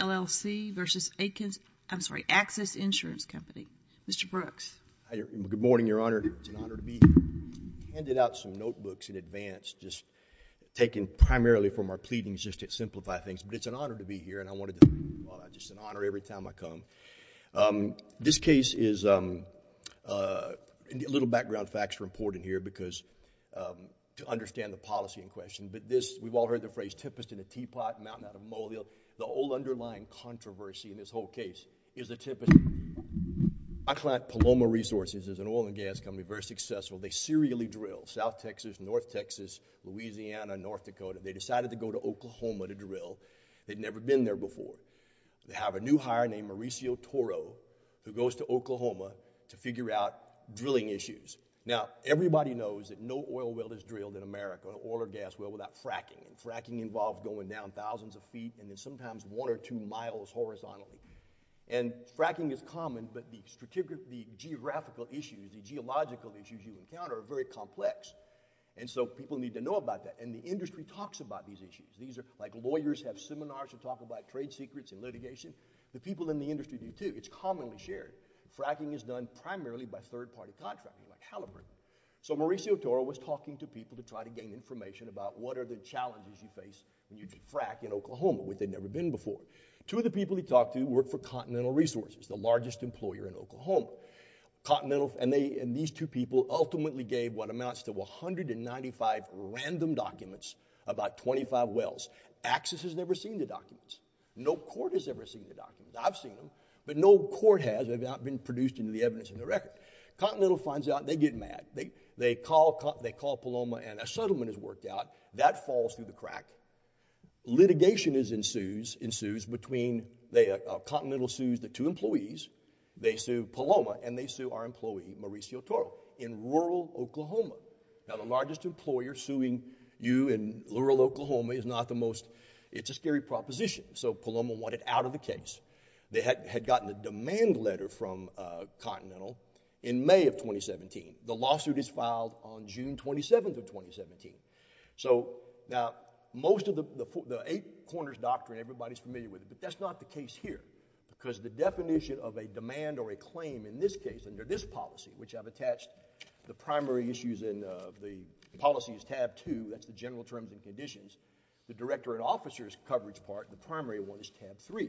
LLC v. Axis Insurance Company. Mr. Brooks. Good morning, Your Honor. It's an honor to be here. I handed out some notebooks in advance, just taken primarily from our pleadings just to simplify things. But it's an honor to be here, and I wanted to – just an honor every time I come. This case is – a little background facts are important here because – to understand the policy in question. But this – we've all heard the phrase, tempest in a teapot, mountain out of molio. The old underlying controversy in this whole case is the tempest in a teapot. Our client, Paloma Resources, is an oil and gas company, very successful. They serially drill South Texas, North Texas, Louisiana, North Dakota. They decided to go to Oklahoma to drill. They'd never been there before. They have a new hire named Mauricio Toro who goes to Oklahoma to figure out drilling issues. Now everybody knows that no oil well is drilled in America, an oil or gas well, without fracking. And fracking involves going down thousands of feet and then sometimes one or two miles horizontally. And fracking is common, but the geographical issues, the geological issues you encounter are very complex. And so people need to know about that. And the industry talks about these issues. These are – like lawyers have seminars that talk about trade secrets and litigation. The people in the industry do too. It's commonly shared. Fracking is done primarily by third-party contracting, like Haliburton. So Mauricio Toro was talking to people to try to gain information about what are the challenges you face when you do frack in Oklahoma, which they'd never been before. Two of the people he talked to worked for Continental Resources, the largest employer in Oklahoma. Continental – and they – and these two people ultimately gave what amounts to 195 random documents about 25 wells. Axis has never seen the documents. No court has ever seen the documents. I've seen them, but no court has without being produced into the evidence in the record. Continental finds out and they get mad. They call Paloma and a settlement is worked out. That falls through the crack. Litigation ensues between – Continental sues the two employees. They sue Paloma and they sue our employee, Mauricio Toro, in rural Oklahoma. Now, the largest employer suing you in rural Oklahoma is not the most – it's a scary proposition. So Paloma wanted out of the case. They had gotten a demand letter from Continental in May of 2017. The lawsuit is filed on June 27th of 2017. So now, most of the Eight Corners Doctrine, everybody's familiar with it, but that's not the case here because the definition of a demand or a claim in this case under this policy, which I've attached, the primary issues in the policy is tab 2, that's the general terms and conditions. The director and officer's coverage part, the primary one, is tab 3.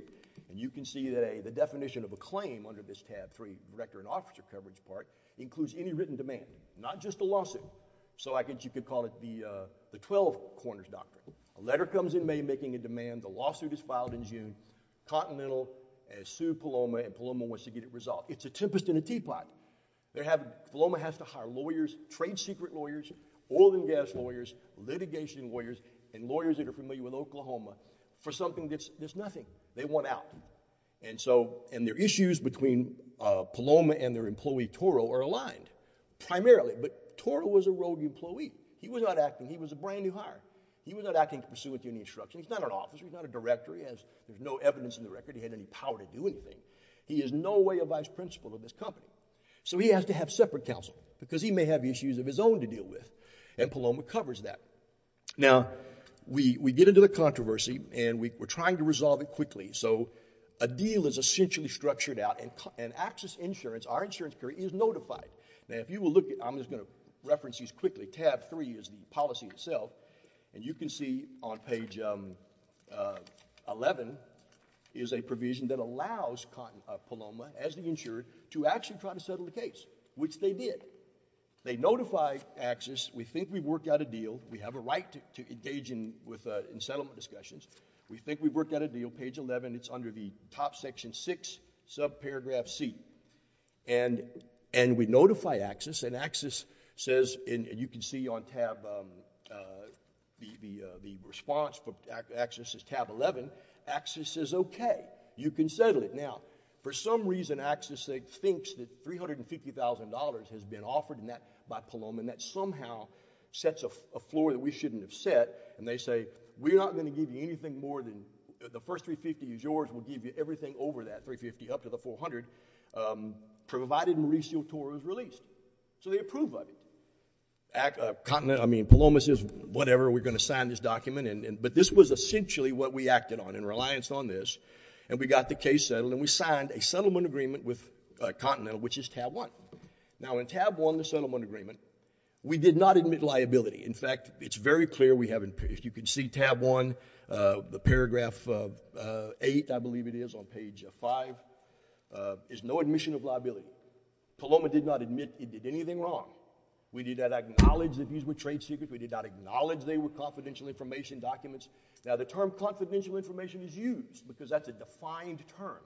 And you can see that the definition of a claim under this tab 3, director and officer coverage part, includes any written demand, not just a lawsuit. So you could call it the Twelve Corners Doctrine. A letter comes in May making a demand, the lawsuit is filed in June, Continental has sued Paloma and Paloma wants to get it resolved. It's a tempest in a teapot. Paloma has to hire lawyers, trade secret lawyers, oil and gas lawyers, litigation lawyers, and lawyers that are familiar with Oklahoma for something that's nothing. They want out. And so, and their issues between Paloma and their employee Toro are aligned, primarily. But Toro was a rogue employee. He was not acting, he was a brand new hire. He was not acting to pursue a union instruction. He's not an officer, he's not a director, he has, there's no evidence in the record he had any power to do anything. He is no way a vice principal of this company. So he has to have separate counsel because he may have issues of his own to deal with and Paloma covers that. Now, we get into the controversy and we're trying to resolve it quickly. So a deal is essentially structured out and AXIS Insurance, our insurance company, is notified. Now if you will look at, I'm just going to reference these quickly, tab three is the policy itself and you can see on page 11 is a provision that allows Paloma, as the insurer, to actually try to settle the case, which they did. They notify AXIS, we think we've worked out a deal, we have a right to engage in settlement discussions, we think we've worked out a deal, page 11, it's under the top section six, subparagraph C, and we notify AXIS and AXIS says, and you can see on tab, the response for AXIS is tab 11, AXIS says okay, you can settle it. Now, for some reason, AXIS thinks that $350,000 has been offered by Paloma and that somehow sets a floor that we shouldn't have set and they say, we're not going to give you anything more than, the first $350,000 is yours, we'll give you everything over that $350,000 up to the $400,000 provided Mauricio Toro is released. So they approve of it. I mean, Paloma says, whatever, we're going to sign this document, but this was essentially what we acted on in reliance on this, and we got the case settled and we signed a settlement agreement with Continental, which is tab one. Now in tab one, the settlement agreement, we did not admit liability. In fact, it's very clear we haven't, if you can see tab one, the paragraph eight, I believe it is on page five, is no admission of liability. Paloma did not admit he did anything wrong. We did not acknowledge that these were trade secrets. We did not acknowledge they were confidential information documents. Now the term confidential information is used because that's a defined term,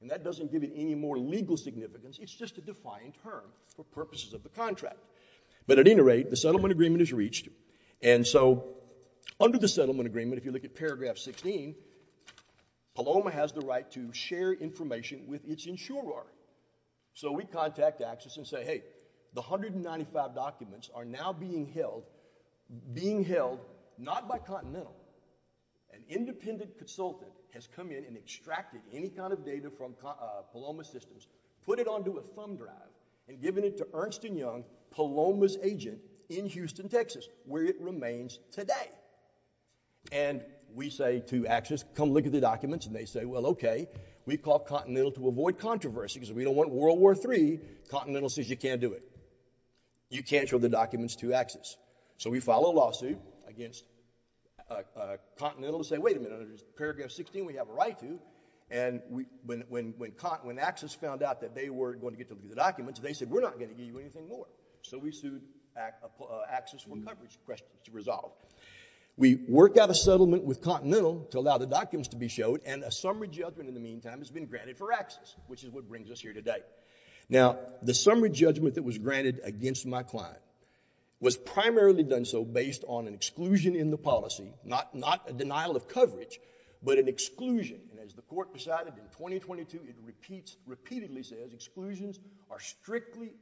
and that doesn't give it any more legal significance, it's just a defined term for purposes of the contract. But at any rate, the settlement agreement is reached, and so under the settlement agreement, if you look at paragraph 16, Paloma has the right to share information with its insurer. So we contact Axis and say, hey, the 195 documents are now being held, being held not by Continental, an independent consultant has come in and extracted any kind of data from Paloma Systems, put it onto a thumb drive, and given it to Ernst & Young, Paloma's agent, in Houston, Texas, where it remains today. And we say to Axis, come look at the documents, and they say, well, okay, we called Continental to avoid controversy because we don't want World War III, Continental says you can't do it. You can't show the documents to Axis. So we file a lawsuit against Continental to say, wait a minute, under paragraph 16, we have a right to, and when Axis found out that they weren't going to get to look at the documents, they said, we're not going to give you anything more. So we sued Axis for coverage to resolve. We work out a settlement with Continental to allow the documents to be showed, and a summary judgment in the meantime has been granted for Axis, which is what brings us here today. Now, the summary judgment that was granted against my client was primarily done so based on an exclusion in the policy, not a denial of coverage, but an exclusion, and as the court decided in 2022, it repeats, repeatedly says, exclusions are strictly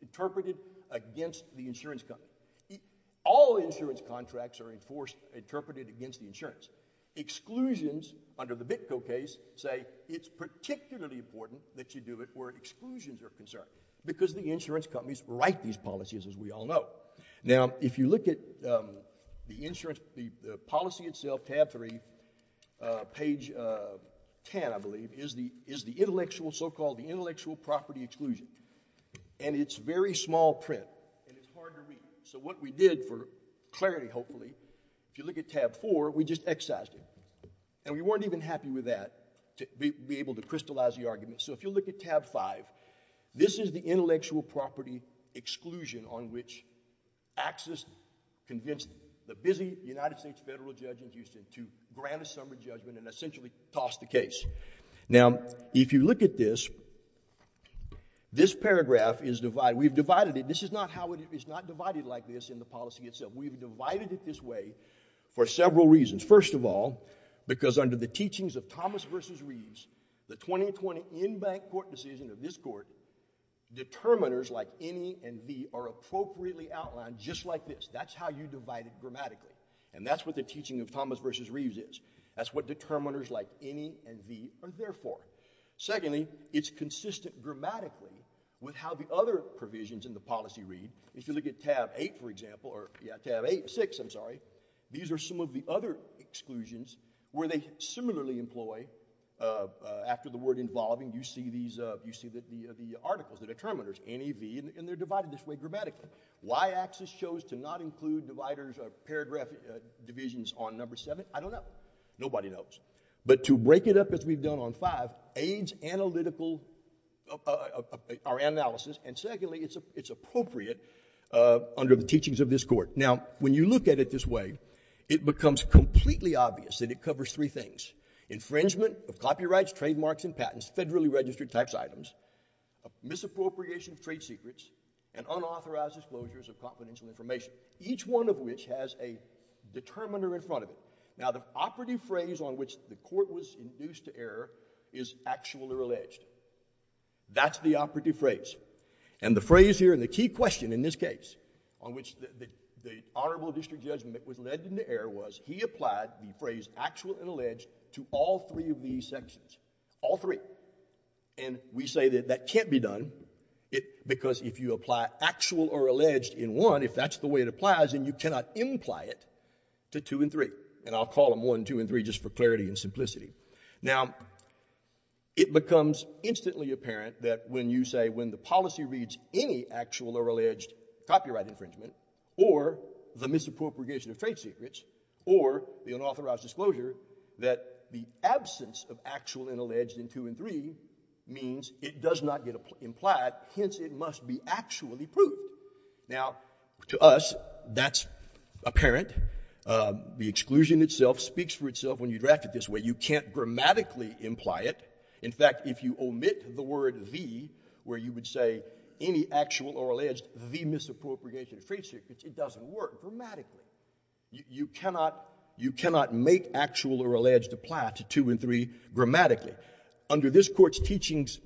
interpreted against the insurance company. All insurance contracts are enforced, interpreted against the insurance. Exclusions under the Bitco case say it's particularly important that you do it where exclusions are concerned, because the insurance companies write these policies, as we all know. Now, if you look at the policy itself, tab 3, page 10, I believe, is the intellectual, so-called the intellectual property exclusion, and it's very small print, and it's hard to read. So what we did for clarity, hopefully, if you look at tab 4, we just excised it, and we weren't even happy with that, to be able to crystallize the argument. So if you look at tab 5, this is the intellectual property exclusion on which Axis convinced the busy United States federal judges in Houston to grant a summary judgment and essentially toss the case. Now, if you look at this, this paragraph is divided. We've divided it. This is not how it is. It's not divided like this in the policy itself. We've divided it this way for several reasons. First of all, because under the teachings of Thomas versus Reeves, the 2020 in-bank court decision of this court, determiners like any and the are appropriately outlined just like this. That's how you divide it grammatically, and that's what the teaching of Thomas versus Reeves is. That's what determiners like any and the are there for. Secondly, it's consistent grammatically with how the other provisions in the policy read. If you look at tab 8, for example, or yeah, tab 8, 6, I'm sorry, these are some of the other exclusions where they similarly employ, after the word involving, you see these, you see the articles, the determiners, any, the, and they're divided this way grammatically. Why Axis chose to not include dividers or paragraph divisions on number 7, I don't know. Nobody knows. But to break it up as we've done on 5, aids analytical, our analysis, and secondly, it's appropriate under the teachings of this court. Now, when you look at it this way, it becomes completely obvious that it covers three things, infringement of copyrights, trademarks, and patents, federally registered tax items, misappropriation of trade secrets, and unauthorized disclosures of confidential information, each one of which has a determiner in front of it. Now the operative phrase on which the court was induced to err is actually alleged. That's the operative phrase. And the phrase here, and the key question in this case, on which the honorable district judgment was led into error was he applied the phrase actual and alleged to all three of these sections, all three. And we say that that can't be done because if you apply actual or alleged in one, if that's the way it applies, then you cannot imply it to two and three. And I'll call them one, two, and three just for clarity and simplicity. Now, it becomes instantly apparent that when you say when the policy reads any actual or alleged copyright infringement, or the misappropriation of trade secrets, or the unauthorized disclosure, that the absence of actual and alleged in two and three means it does not get implied, hence it must be actually proved. Now to us, that's apparent. The exclusion itself speaks for itself when you draft it this way. You can't grammatically imply it. In fact, if you omit the word the, where you would say any actual or alleged the misappropriation of trade secrets, it doesn't work grammatically. You cannot make actual or alleged apply to two and three grammatically. Under this court's teachings,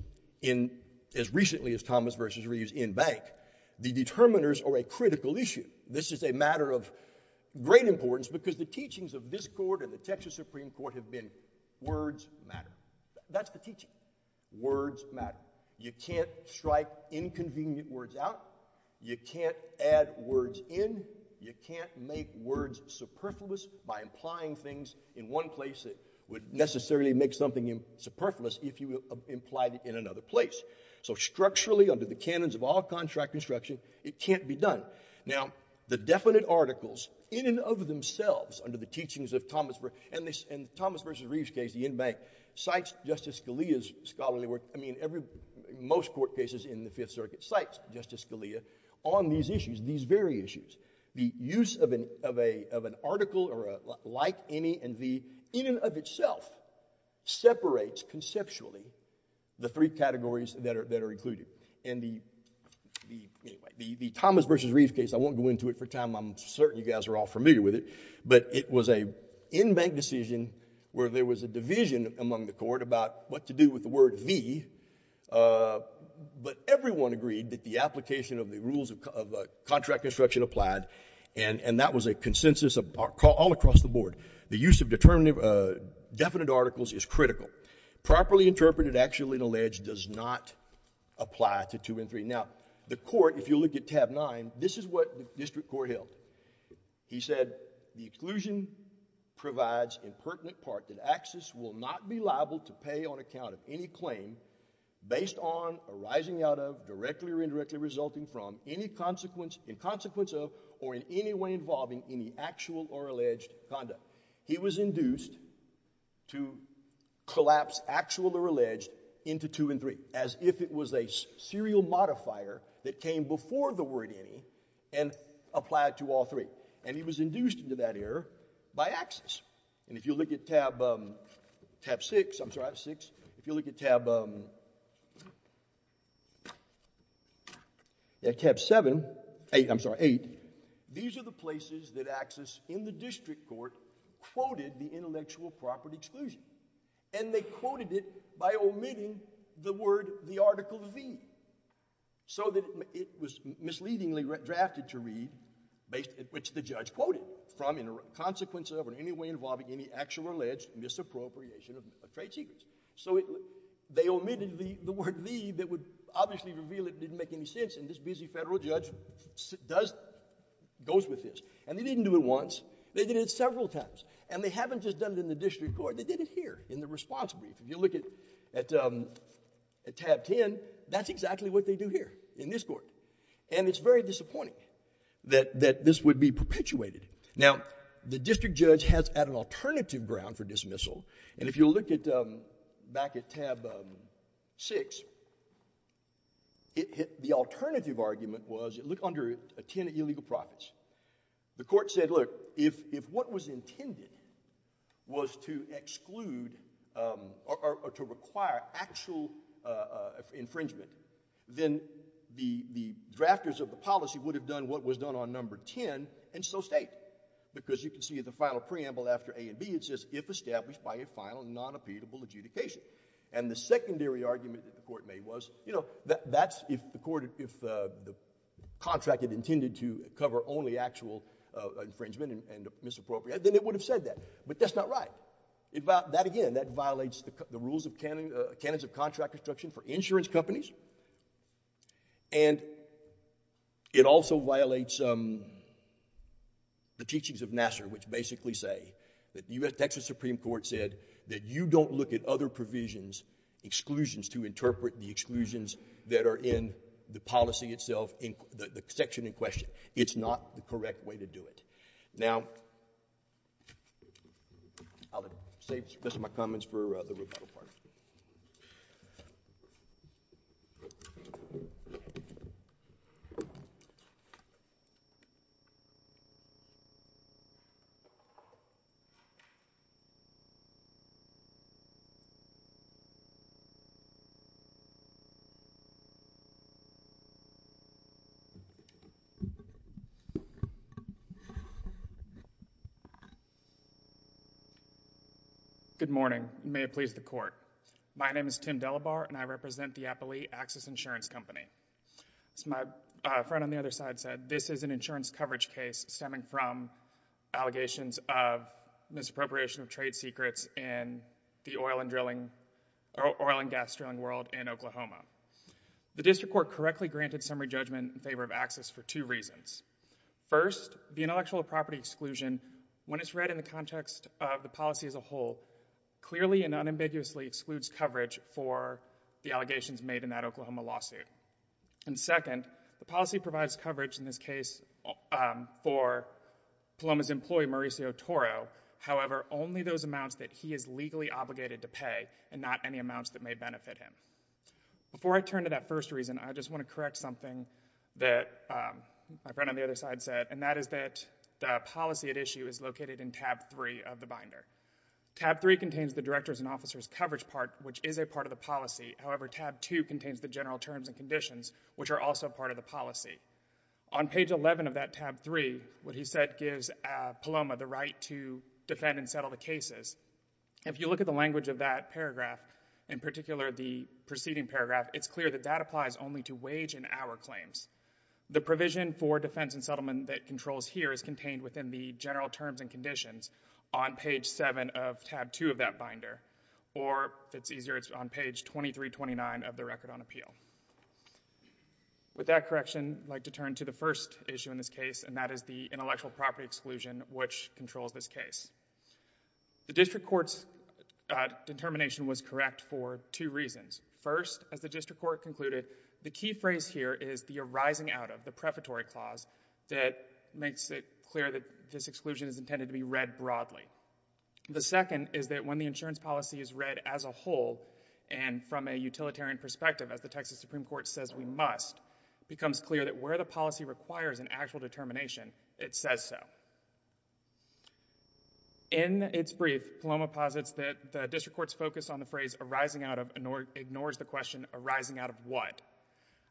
as recently as Thomas v. Reeves in Bank, the determiners are a critical issue. This is a matter of great importance because the teachings of this court and the Texas Supreme Court have been words matter. That's the teaching. Words matter. You can't strike inconvenient words out. You can't add words in. You can't make words superfluous by implying things in one place that would necessarily make something superfluous if you implied it in another place. So structurally, under the canons of all contract construction, it can't be done. Now, the definite articles in and of themselves under the teachings of Thomas v. Reeves, and the Thomas v. Reeves case, the end bank, cites Justice Scalia's scholarly work, I mean, most court cases in the Fifth Circuit cites Justice Scalia on these issues, these very issues. The use of an article or a like, any, and the in and of itself separates conceptually the three categories that are included. And the Thomas v. Reeves case, I won't go into it for time. I'm certain you guys are all familiar with it. But it was a end bank decision where there was a division among the court about what to do with the word the, but everyone agreed that the application of the rules of contract construction applied, and that was a consensus all across the board. The use of definitive articles is critical. Properly interpreted, actual, and alleged does not apply to two and three. Now, the court, if you look at tab nine, this is what the district court held. He said, the exclusion provides impertinent part that access will not be liable to pay on account of any claim based on arising out of, directly or indirectly resulting from, in consequence of, or in any way involving any actual or alleged conduct. He was induced to collapse actual or alleged into two and three as if it was a serial modifier that came before the word any and applied to all three. And he was induced into that error by access. And if you look at tab, tab six, I'm sorry, I have six. If you look at tab, at tab seven, eight, I'm sorry, eight. These are the places that access in the district court quoted the intellectual property exclusion. And they quoted it by omitting the word, the article V. So that it was misleadingly drafted to read, based, which the judge quoted, from, in consequence of, or in any way involving any actual or alleged misappropriation of trade secrets. So it, they omitted the, the word V that would obviously reveal it didn't make any sense and this busy federal judge does, goes with this. And they didn't do it once, they did it several times. And they haven't just done it in the district court, they did it here in the response brief. If you look at, at tab ten, that's exactly what they do here in this court. And it's very disappointing that, that this would be perpetuated. Now the district judge has an alternative ground for dismissal and if you look at, back at tab six, it, the alternative argument was, look under ten illegal profits. The court said, look, if, if what was intended was to exclude or, or to require actual infringement, then the, the drafters of the policy would have done what was done on number ten and so state. Because you can see the final preamble after A and B, it says, if established by a final non-appealable adjudication. And the secondary argument that the court made was, you know, that, that's if the court, if the contract had intended to cover only actual infringement and, and misappropriate, then it would have said that. But that's not right. It, that again, that violates the rules of canon, canons of contract construction for insurance companies. And it also violates the teachings of Nassar which basically say that the U.S. Texas Supreme Court said that you don't look at other provisions, exclusions to interpret the exclusions that are in the policy itself, the section in question. It's not the correct way to do it. Now, I'll save some of my comments for the rebuttal part. Go ahead. Good morning. May it please the court. My name is Tim Delabarre, and I represent the Appalachian Access Insurance Company. As my friend on the other side said, this is an insurance coverage case stemming from allegations of misappropriation of trade secrets in the oil and gas drilling world in Oklahoma. The district court correctly granted summary judgment in favor of access for two reasons. First, the intellectual property exclusion, when it's read in the context of the policy as a whole, clearly and unambiguously excludes coverage for the allegations made in that Oklahoma lawsuit. And second, the policy provides coverage in this case for Paloma's employee, Mauricio Toro. However, only those amounts that he is legally obligated to pay, and not any amounts that may benefit him. Before I turn to that first reason, I just want to correct something that my friend on three of the binder. Tab three contains the Director's and Officers' coverage part, which is a part of the policy. However, tab two contains the general terms and conditions, which are also part of the policy. On page eleven of that tab three, what he said gives Paloma the right to defend and settle the cases. If you look at the language of that paragraph, in particular, the preceding paragraph, it's clear that that applies only to wage and hour claims. The provision for defense and settlement that controls here is contained within the general terms and conditions on page seven of tab two of that binder, or if it's easier, it's on page 2329 of the Record on Appeal. With that correction, I'd like to turn to the first issue in this case, and that is the intellectual property exclusion, which controls this case. The district court's determination was correct for two reasons. First, as the district court concluded, the key phrase here is the arising out of, the exclusion is intended to be read broadly. The second is that when the insurance policy is read as a whole and from a utilitarian perspective, as the Texas Supreme Court says we must, it becomes clear that where the policy requires an actual determination, it says so. In its brief, Paloma posits that the district court's focus on the phrase arising out of ignores the question arising out of what.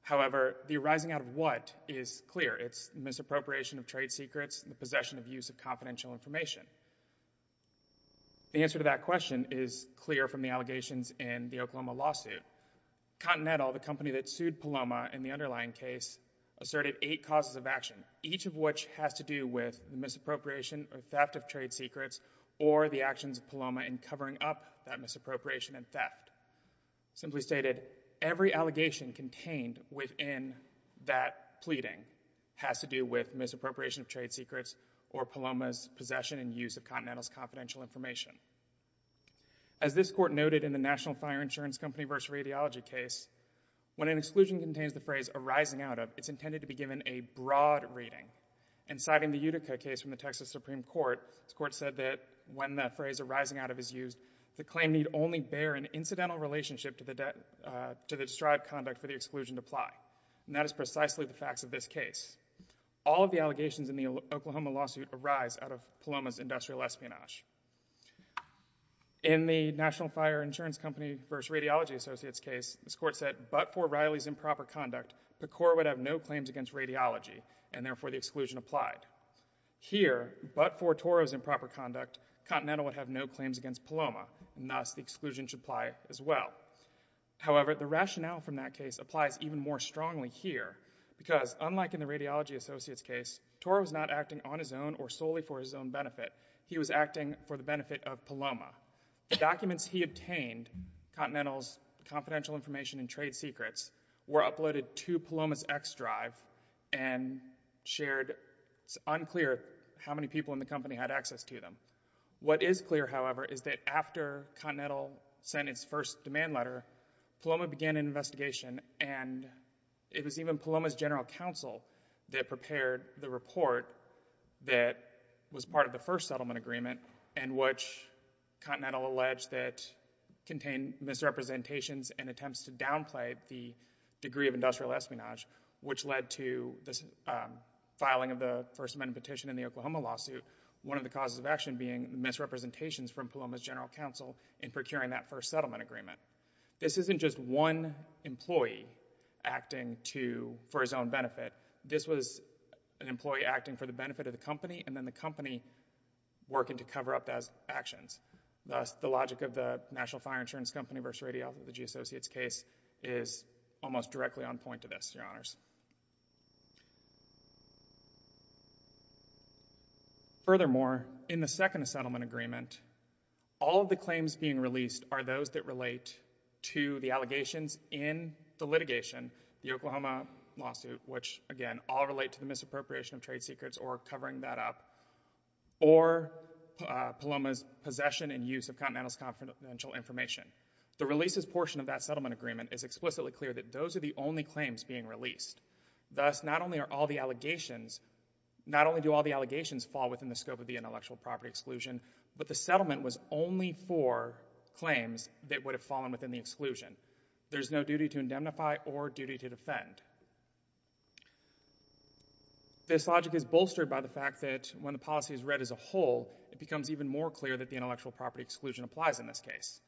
However, the arising out of what is clear. It's misappropriation of trade secrets, the possession of use of confidential information. The answer to that question is clear from the allegations in the Oklahoma lawsuit. Continental, the company that sued Paloma in the underlying case, asserted eight causes of action, each of which has to do with the misappropriation or theft of trade secrets or the actions of Paloma in covering up that misappropriation and theft. Simply stated, every allegation contained within that pleading has to do with misappropriation of trade secrets or Paloma's possession and use of Continental's confidential information. As this court noted in the National Fire Insurance Company versus Radiology case, when an exclusion contains the phrase arising out of, it's intended to be given a broad reading. And citing the Utica case from the Texas Supreme Court, this court said that when the incidental relationship to the described conduct for the exclusion apply. And that is precisely the facts of this case. All of the allegations in the Oklahoma lawsuit arise out of Paloma's industrial espionage. In the National Fire Insurance Company versus Radiology Associates case, this court said but for Riley's improper conduct, PCOR would have no claims against radiology and therefore the exclusion applied. Here, but for Toro's improper conduct, Continental would have no claims against Paloma and thus exclusion should apply as well. However, the rationale from that case applies even more strongly here. Because unlike in the Radiology Associates case, Toro was not acting on his own or solely for his own benefit. He was acting for the benefit of Paloma. The documents he obtained, Continental's confidential information and trade secrets, were uploaded to Paloma's X drive and shared. It's unclear how many people in the company had access to them. What is clear, however, is that after Continental sent its first demand letter, Paloma began an investigation and it was even Paloma's general counsel that prepared the report that was part of the first settlement agreement in which Continental alleged that contained misrepresentations and attempts to downplay the degree of industrial espionage, which led to the filing of the First Amendment petition in the Oklahoma lawsuit. One of the causes of action being misrepresentations from Paloma's general counsel in procuring that first settlement agreement. This isn't just one employee acting for his own benefit. This was an employee acting for the benefit of the company and then the company working to cover up those actions. Thus, the logic of the National Fire Insurance Company versus Radiology Associates case is almost directly on point to this, Your Honors. Furthermore, in the second settlement agreement, all of the claims being released are those that relate to the allegations in the litigation, the Oklahoma lawsuit, which, again, all relate to the misappropriation of trade secrets or covering that up, or Paloma's possession and use of Continental's confidential information. The releases portion of that settlement agreement is explicitly clear that those are the only claims being released. Thus, not only do all the allegations fall within the scope of the intellectual property exclusion, but the settlement was only for claims that would have fallen within the exclusion. There's no duty to indemnify or duty to defend. This logic is bolstered by the fact that when the policy is read as a whole, it becomes even more clear that the intellectual property exclusion applies in this case.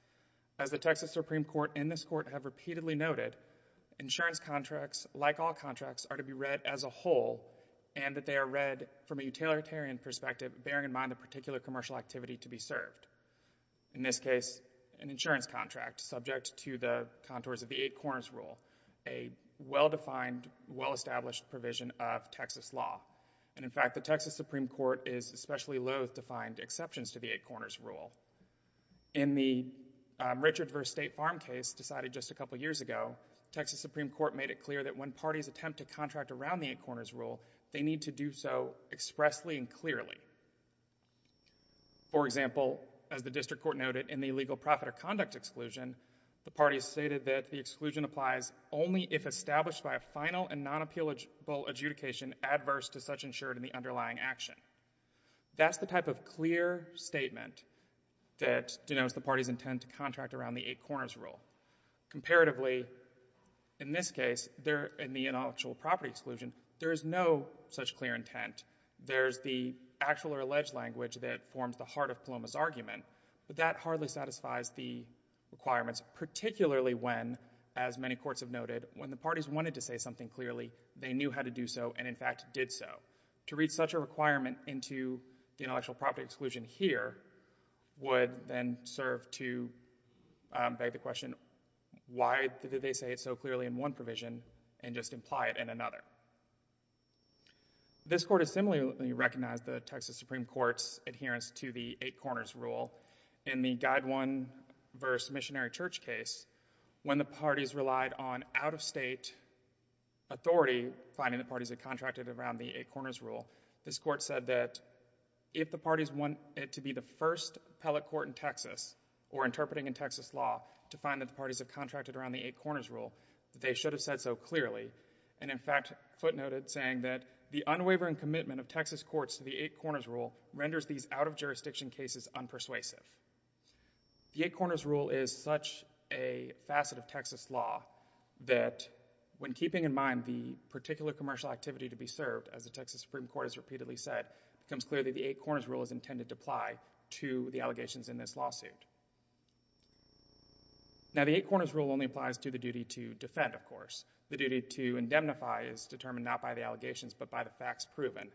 As the Texas Supreme Court and this Court have repeatedly noted, insurance contracts, like all contracts, are to be read as a whole and that they are read from a utilitarian perspective, bearing in mind the particular commercial activity to be served. In this case, an insurance contract subject to the contours of the Eight Corners Rule, a well-defined, well-established provision of Texas law. In fact, the Texas Supreme Court is especially loath to find exceptions to the Eight Corners Rule. In the Richard v. State Farm case decided just a couple years ago, Texas Supreme Court made it clear that when parties attempt to contract around the Eight Corners Rule, they need to do so expressly and clearly. For example, as the District Court noted, in the illegal profit or conduct exclusion, the parties stated that the exclusion applies only if established by a final and non-appealable adjudication adverse to such insured in the underlying action. That's the type of clear statement that denotes the party's intent to contract around the Eight Corners Rule. Comparatively, in this case, in the intellectual property exclusion, there is no such clear intent. There's the actual or alleged language that forms the heart of Coloma's argument, but that hardly satisfies the requirements, particularly when, as many courts have noted, when the parties wanted to say something clearly, they knew how to do so and, in fact, did so. To read such a requirement into the intellectual property exclusion here would then serve to, um, beg the question, why did they say it so clearly in one provision and just imply it in another? This Court has similarly recognized the Texas Supreme Court's adherence to the Eight Corners Rule. In the Guide 1 v. Missionary Church case, when the parties relied on out-of-state authority finding the parties that contracted around the Eight Corners Rule, this Court said that if the parties want it to be the first appellate court in Texas or interpreting in Texas law to find that the parties have contracted around the Eight Corners Rule, they should have said so clearly and, in fact, footnoted saying that the unwavering commitment of Texas courts to the Eight Corners Rule renders these out-of-jurisdiction cases unpersuasive. The Eight Corners Rule is such a facet of Texas law that when keeping in mind the particular commercial activity to be served, as the Texas Supreme Court has repeatedly said, it becomes clear that the Eight Corners Rule is intended to apply to the allegations in this lawsuit. Now, the Eight Corners Rule only applies to the duty to defend, of course. The duty to indemnify is determined not by the allegations but by the facts proven.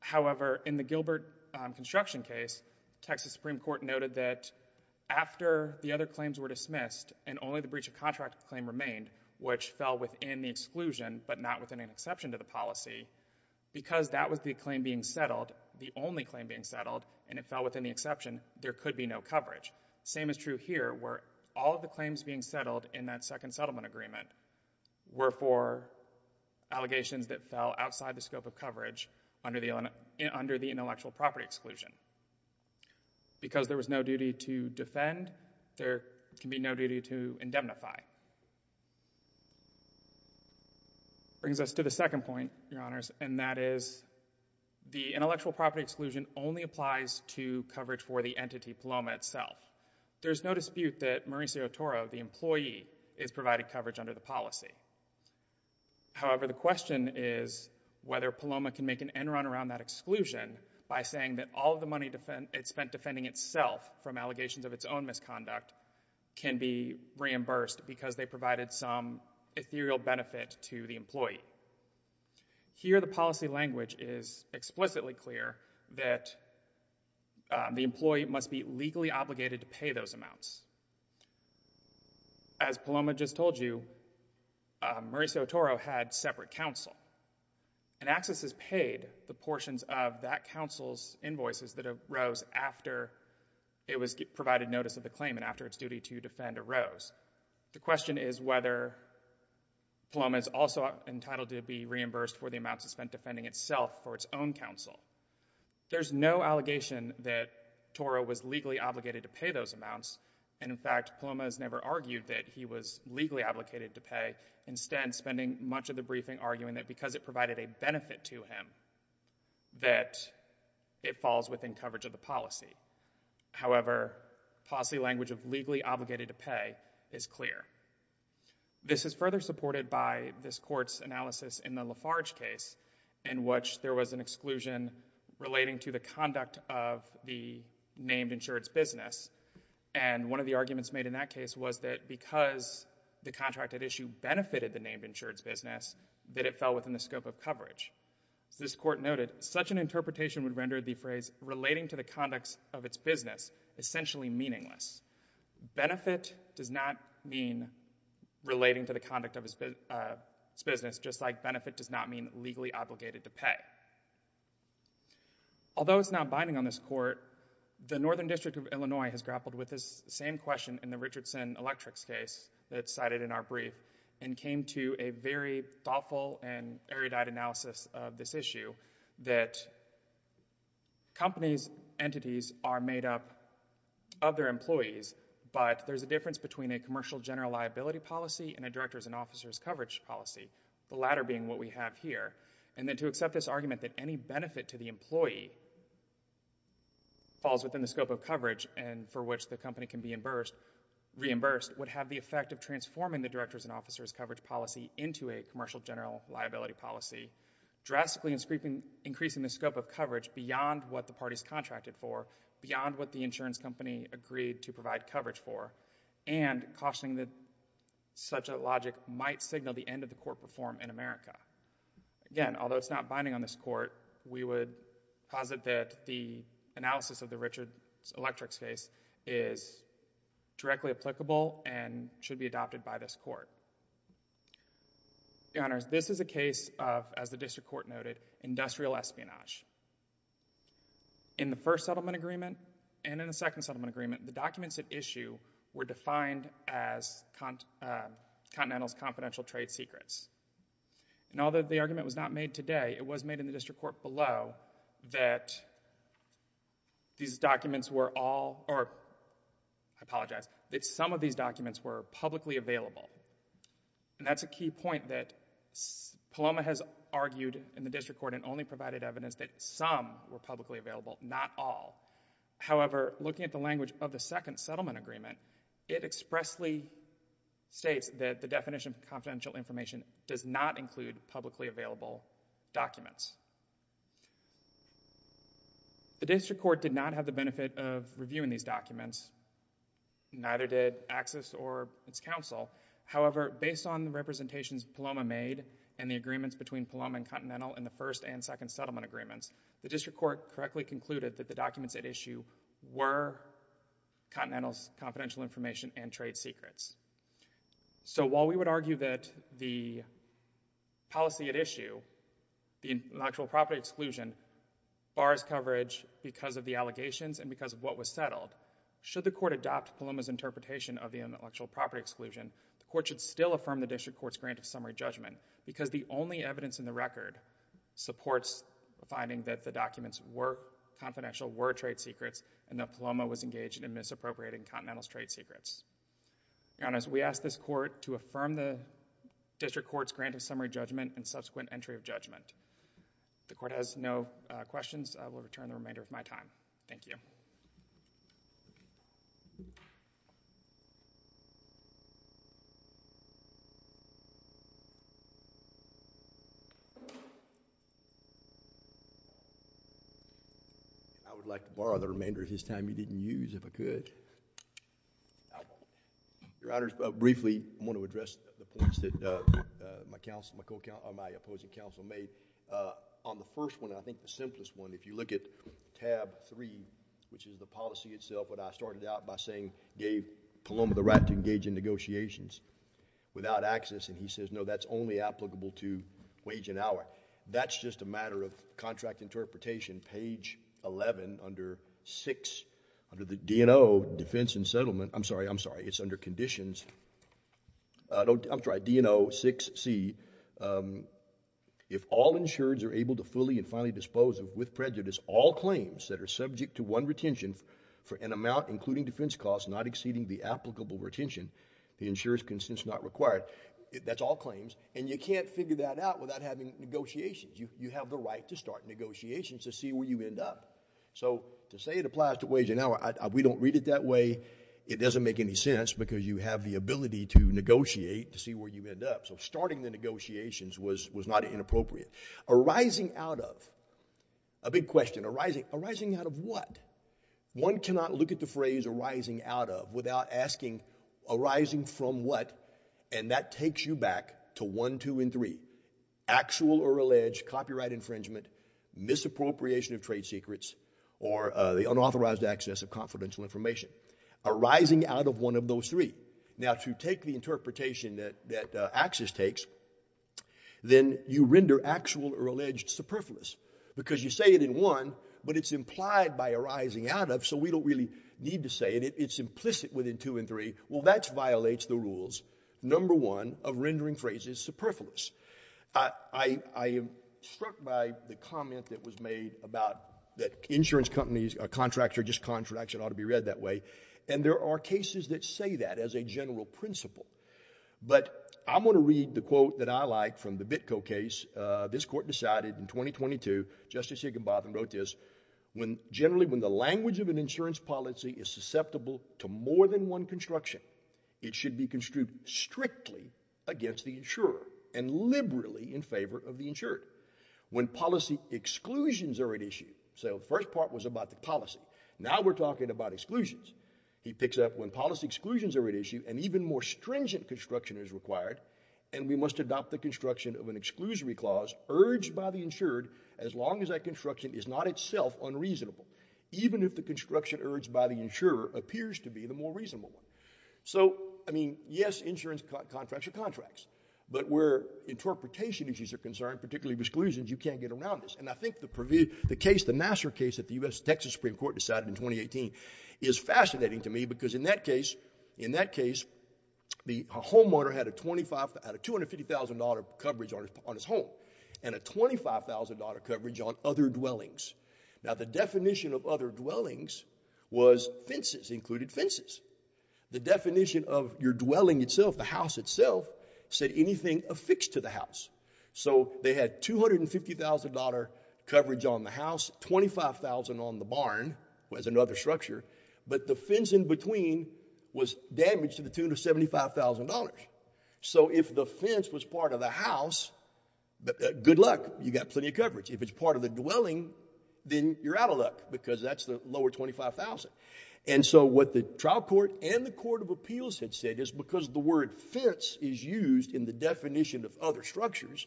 However, in the Gilbert construction case, Texas Supreme Court noted that after the other claims were dismissed and only the breach of contract claim remained, which fell within the exclusion but not within an exception to the policy, because that was the claim being settled, the only claim being settled, and it fell within the exception, there could be no coverage. Same is true here where all of the claims being settled in that second settlement agreement were for allegations that fell outside the scope of coverage under the intellectual property exclusion. Because there was no duty to defend, there can be no duty to indemnify. Brings us to the second point, Your Honors, and that is the intellectual property exclusion only applies to coverage for the entity, Paloma, itself. There's no dispute that Mauricio Toro, the employee, is providing coverage under the policy. However, the question is whether Paloma can make an end run around that exclusion by saying that all of the money it spent defending itself from allegations of its own misconduct can be reimbursed because they provided some ethereal benefit to the employee. Here the policy language is explicitly clear that the employee must be legally obligated to pay those amounts. As Paloma just told you, Mauricio Toro had separate counsel, and Axis has paid the portions of that counsel's invoices that arose after it was provided notice of the claim and after its duty to defend arose. The question is whether Paloma is also entitled to be reimbursed for the amounts it spent defending itself for its own counsel. There's no allegation that Toro was legally obligated to pay those amounts, and in fact, Paloma has never argued that he was legally obligated to pay. Instead, spending much of the briefing arguing that because it provided a benefit to him that it falls within coverage of the policy. However, policy language of legally obligated to pay is clear. This is further supported by this Court's analysis in the Lafarge case in which there was an exclusion relating to the conduct of the named insurance business, and one of the arguments made in that case was that because the contracted issue benefited the named insurance business that it fell within the scope of coverage. As this Court noted, such an interpretation would render the phrase relating to the conduct of its business essentially meaningless. Benefit does not mean relating to the conduct of its business just like benefit does not mean legally obligated to pay. Although it's not binding on this Court, the Northern District of Illinois has grappled with this same question in the Richardson Electric's case that's cited in our brief and came to a very thoughtful and erudite analysis of this issue that companies, entities are made up of their employees, but there's a difference between a commercial general liability policy and a director's and officer's coverage policy, the latter being what we have here, and then to accept this argument that any benefit to the employee falls within the scope of coverage and for which the company can be reimbursed would have the effect of transforming the director's and officer's coverage policy into a commercial general liability policy, drastically increasing the scope of coverage beyond what the party's contracted for, beyond what the insurance company agreed to provide coverage for, and cautioning that such a logic might signal the end of the court reform in America. Again, although it's not binding on this Court, we would posit that the analysis of the Richards Electric's case is directly applicable and should be adopted by this Court. Your Honors, this is a case of, as the District Court noted, industrial espionage. In the first settlement agreement and in the second settlement agreement, the documents at issue were defined as Continental's confidential trade secrets. And although the argument was not made today, it was made in the District Court below that these documents were all, or I apologize, that some of these documents were publicly available, and that's a key point that Paloma has argued in the District Court and only provided evidence that some were publicly available, not all. However, looking at the language of the second settlement agreement, it expressly states that the definition of confidential information does not include publicly available documents. The District Court did not have the benefit of reviewing these documents, neither did AXIS or its counsel. However, based on the representations Paloma made and the agreements between Paloma and Continental in the first and second settlement agreements, the District Court correctly concluded that the documents at issue were Continental's confidential information and trade secrets. So while we would argue that the policy at issue, the intellectual property exclusion, bars coverage because of the allegations and because of what was settled, should the Court adopt Paloma's interpretation of the intellectual property exclusion, the Court should still support the finding that the documents were confidential, were trade secrets, and that Paloma was engaged in misappropriating Continental's trade secrets. Your Honor, we ask this Court to affirm the District Court's grant of summary judgment and subsequent entry of judgment. The Court has no questions. I will return in the remainder of my time. Thank you. I would like to borrow the remainder of his time he didn't use if I could. Your Honor, briefly, I want to address the points that my opposing counsel made. On the first one, I think the simplest one, if you look at tab three, which is the policy itself, what I started out by saying gave Paloma the right to engage in negotiations without AXIS, and he says, no, that's only applicable to wage and hour. That's just a matter of contract interpretation. Page 11 under 6, under the D&O Defense and Settlement, I'm sorry, I'm sorry, it's under Conditions, I'm sorry, D&O 6C, if all insureds are able to fully and finally dispose of, with prejudice, all claims that are subject to one retention for an amount including defense costs not exceeding the applicable retention, the insurer's consent is not required. That's all claims, and you can't figure that out without having negotiations. You have the right to start negotiations to see where you end up. So to say it applies to wage and hour, we don't read it that way. It doesn't make any sense because you have the ability to negotiate to see where you end up. So starting the negotiations was not inappropriate. Arising out of, a big question, arising out of what? One cannot look at the phrase arising out of without asking arising from what, and that takes you back to 1, 2, and 3. Actual or alleged copyright infringement, misappropriation of trade secrets, or the unauthorized access of confidential information. Arising out of one of those three. Now to take the interpretation that Axis takes, then you render actual or alleged superfluous because you say it in one, but it's implied by arising out of, so we don't really need to say it. It's implicit within two and three. Well, that violates the rules. Number one of rendering phrases superfluous. I am struck by the comment that was made about that insurance companies, a contractor, just contracts, it ought to be read that way, and there are cases that say that as a general principle, but I'm going to read the quote that I like from the Bitco case. This court decided in 2022, Justice Higginbotham wrote this, when generally when the language of an insurance policy is susceptible to more than one construction, it should be construed strictly against the insurer and liberally in favor of the insured. When policy exclusions are at issue. So the first part was about the policy. Now we're talking about exclusions. He picks up when policy exclusions are at issue and even more stringent construction is required and we must adopt the construction of an exclusory clause urged by the insured as long as that construction is not itself unreasonable, even if the construction urged by the insurer appears to be the more reasonable one. So, I mean, yes, insurance contracts are contracts, but where interpretation issues are concerned, particularly exclusions, you can't get around this. And I think the case, the Nassar case that the U.S. Texas Supreme Court decided in 2018 is fascinating to me because in that case, in that case, the homeowner had a $250,000 coverage on his home and a $25,000 coverage on other dwellings. Now the definition of other dwellings was fences, included fences. The definition of your dwelling itself, the house itself, said anything affixed to the house. So they had $250,000 coverage on the house, $25,000 on the barn, was another structure, but the fence in between was damaged to the tune of $75,000. So if the fence was part of the house, good luck. You got plenty of coverage. If it's part of the dwelling, then you're out of luck because that's the lower $25,000. And so what the trial court and the court of appeals had said is because the word fence is used in the definition of other structures,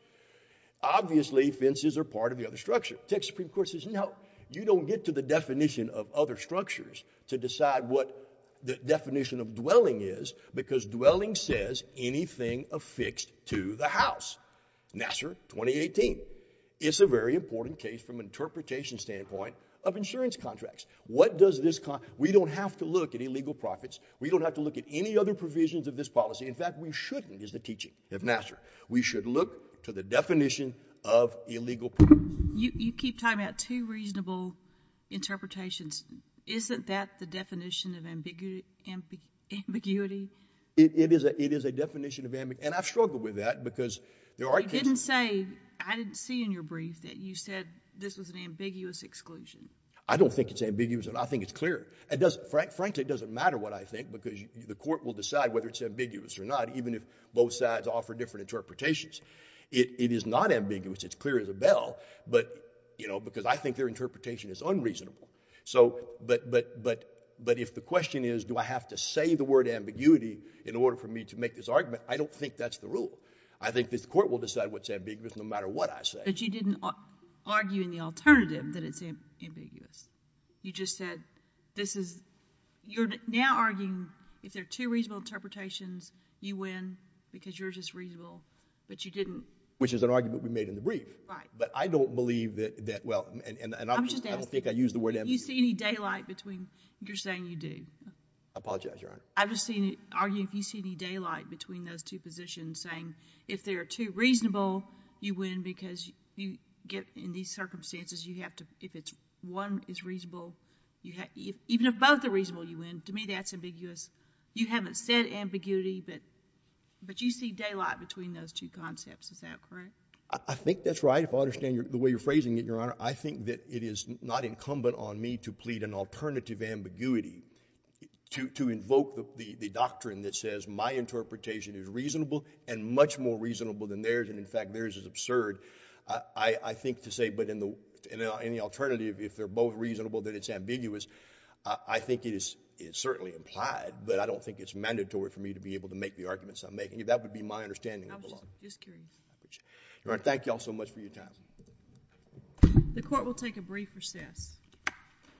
obviously fences are part of the other structure. Texas Supreme Court says, no, you don't get to the definition of other structures to decide what the definition of dwelling is because dwelling says anything affixed to the house. Nassar, 2018. It's a very important case from interpretation standpoint of insurance contracts. What does this, we don't have to look at illegal profits. We don't have to look at any other provisions of this policy. In fact, we shouldn't is the teaching of Nassar. We should look to the definition of illegal profits. You keep talking about two reasonable interpretations. Isn't that the definition of ambiguity? It is a definition of ambiguity. And I've struggled with that because there are cases. You didn't say, I didn't see in your brief that you said this was an ambiguous exclusion. I don't think it's ambiguous and I think it's clear. It doesn't, frankly, it doesn't matter what I think because the court will decide whether it's ambiguous or not, even if both sides offer different interpretations. It is not ambiguous. It's clear as a bell. You know, because I think their interpretation is unreasonable. So, but, but, but, but if the question is, do I have to say the word ambiguity in order for me to make this argument? I don't think that's the rule. I think this court will decide what's ambiguous no matter what I say. But you didn't argue in the alternative that it's ambiguous. You just said this is, you're now arguing if there are two reasonable interpretations, you win because you're just reasonable, but you didn't. Which is an argument we made in the brief. Right. But I don't believe that, that, well, and, and I'm just, I don't think I used the word ambiguity. Do you see any daylight between, you're saying you do. I apologize, Your Honor. I've just seen you argue if you see any daylight between those two positions saying if there are two reasonable, you win because you get in these circumstances, you have to, if it's one is reasonable, you have, even if both are reasonable, you win. To me, that's ambiguous. You haven't said ambiguity, but, but you see daylight between those two concepts. Is that correct? I think that's right. I understand the way you're phrasing it, Your Honor. I think that it is not incumbent on me to plead an alternative ambiguity to, to invoke the, the doctrine that says my interpretation is reasonable and much more reasonable than theirs. And in fact, theirs is absurd. I think to say, but in the, in the alternative, if they're both reasonable, then it's ambiguous. I think it is, it's certainly implied, but I don't think it's mandatory for me to be able to make the arguments I'm making. If that would be my understanding of the law. I was just curious. Your Honor, thank you all so much for your time. The court will take a brief recess.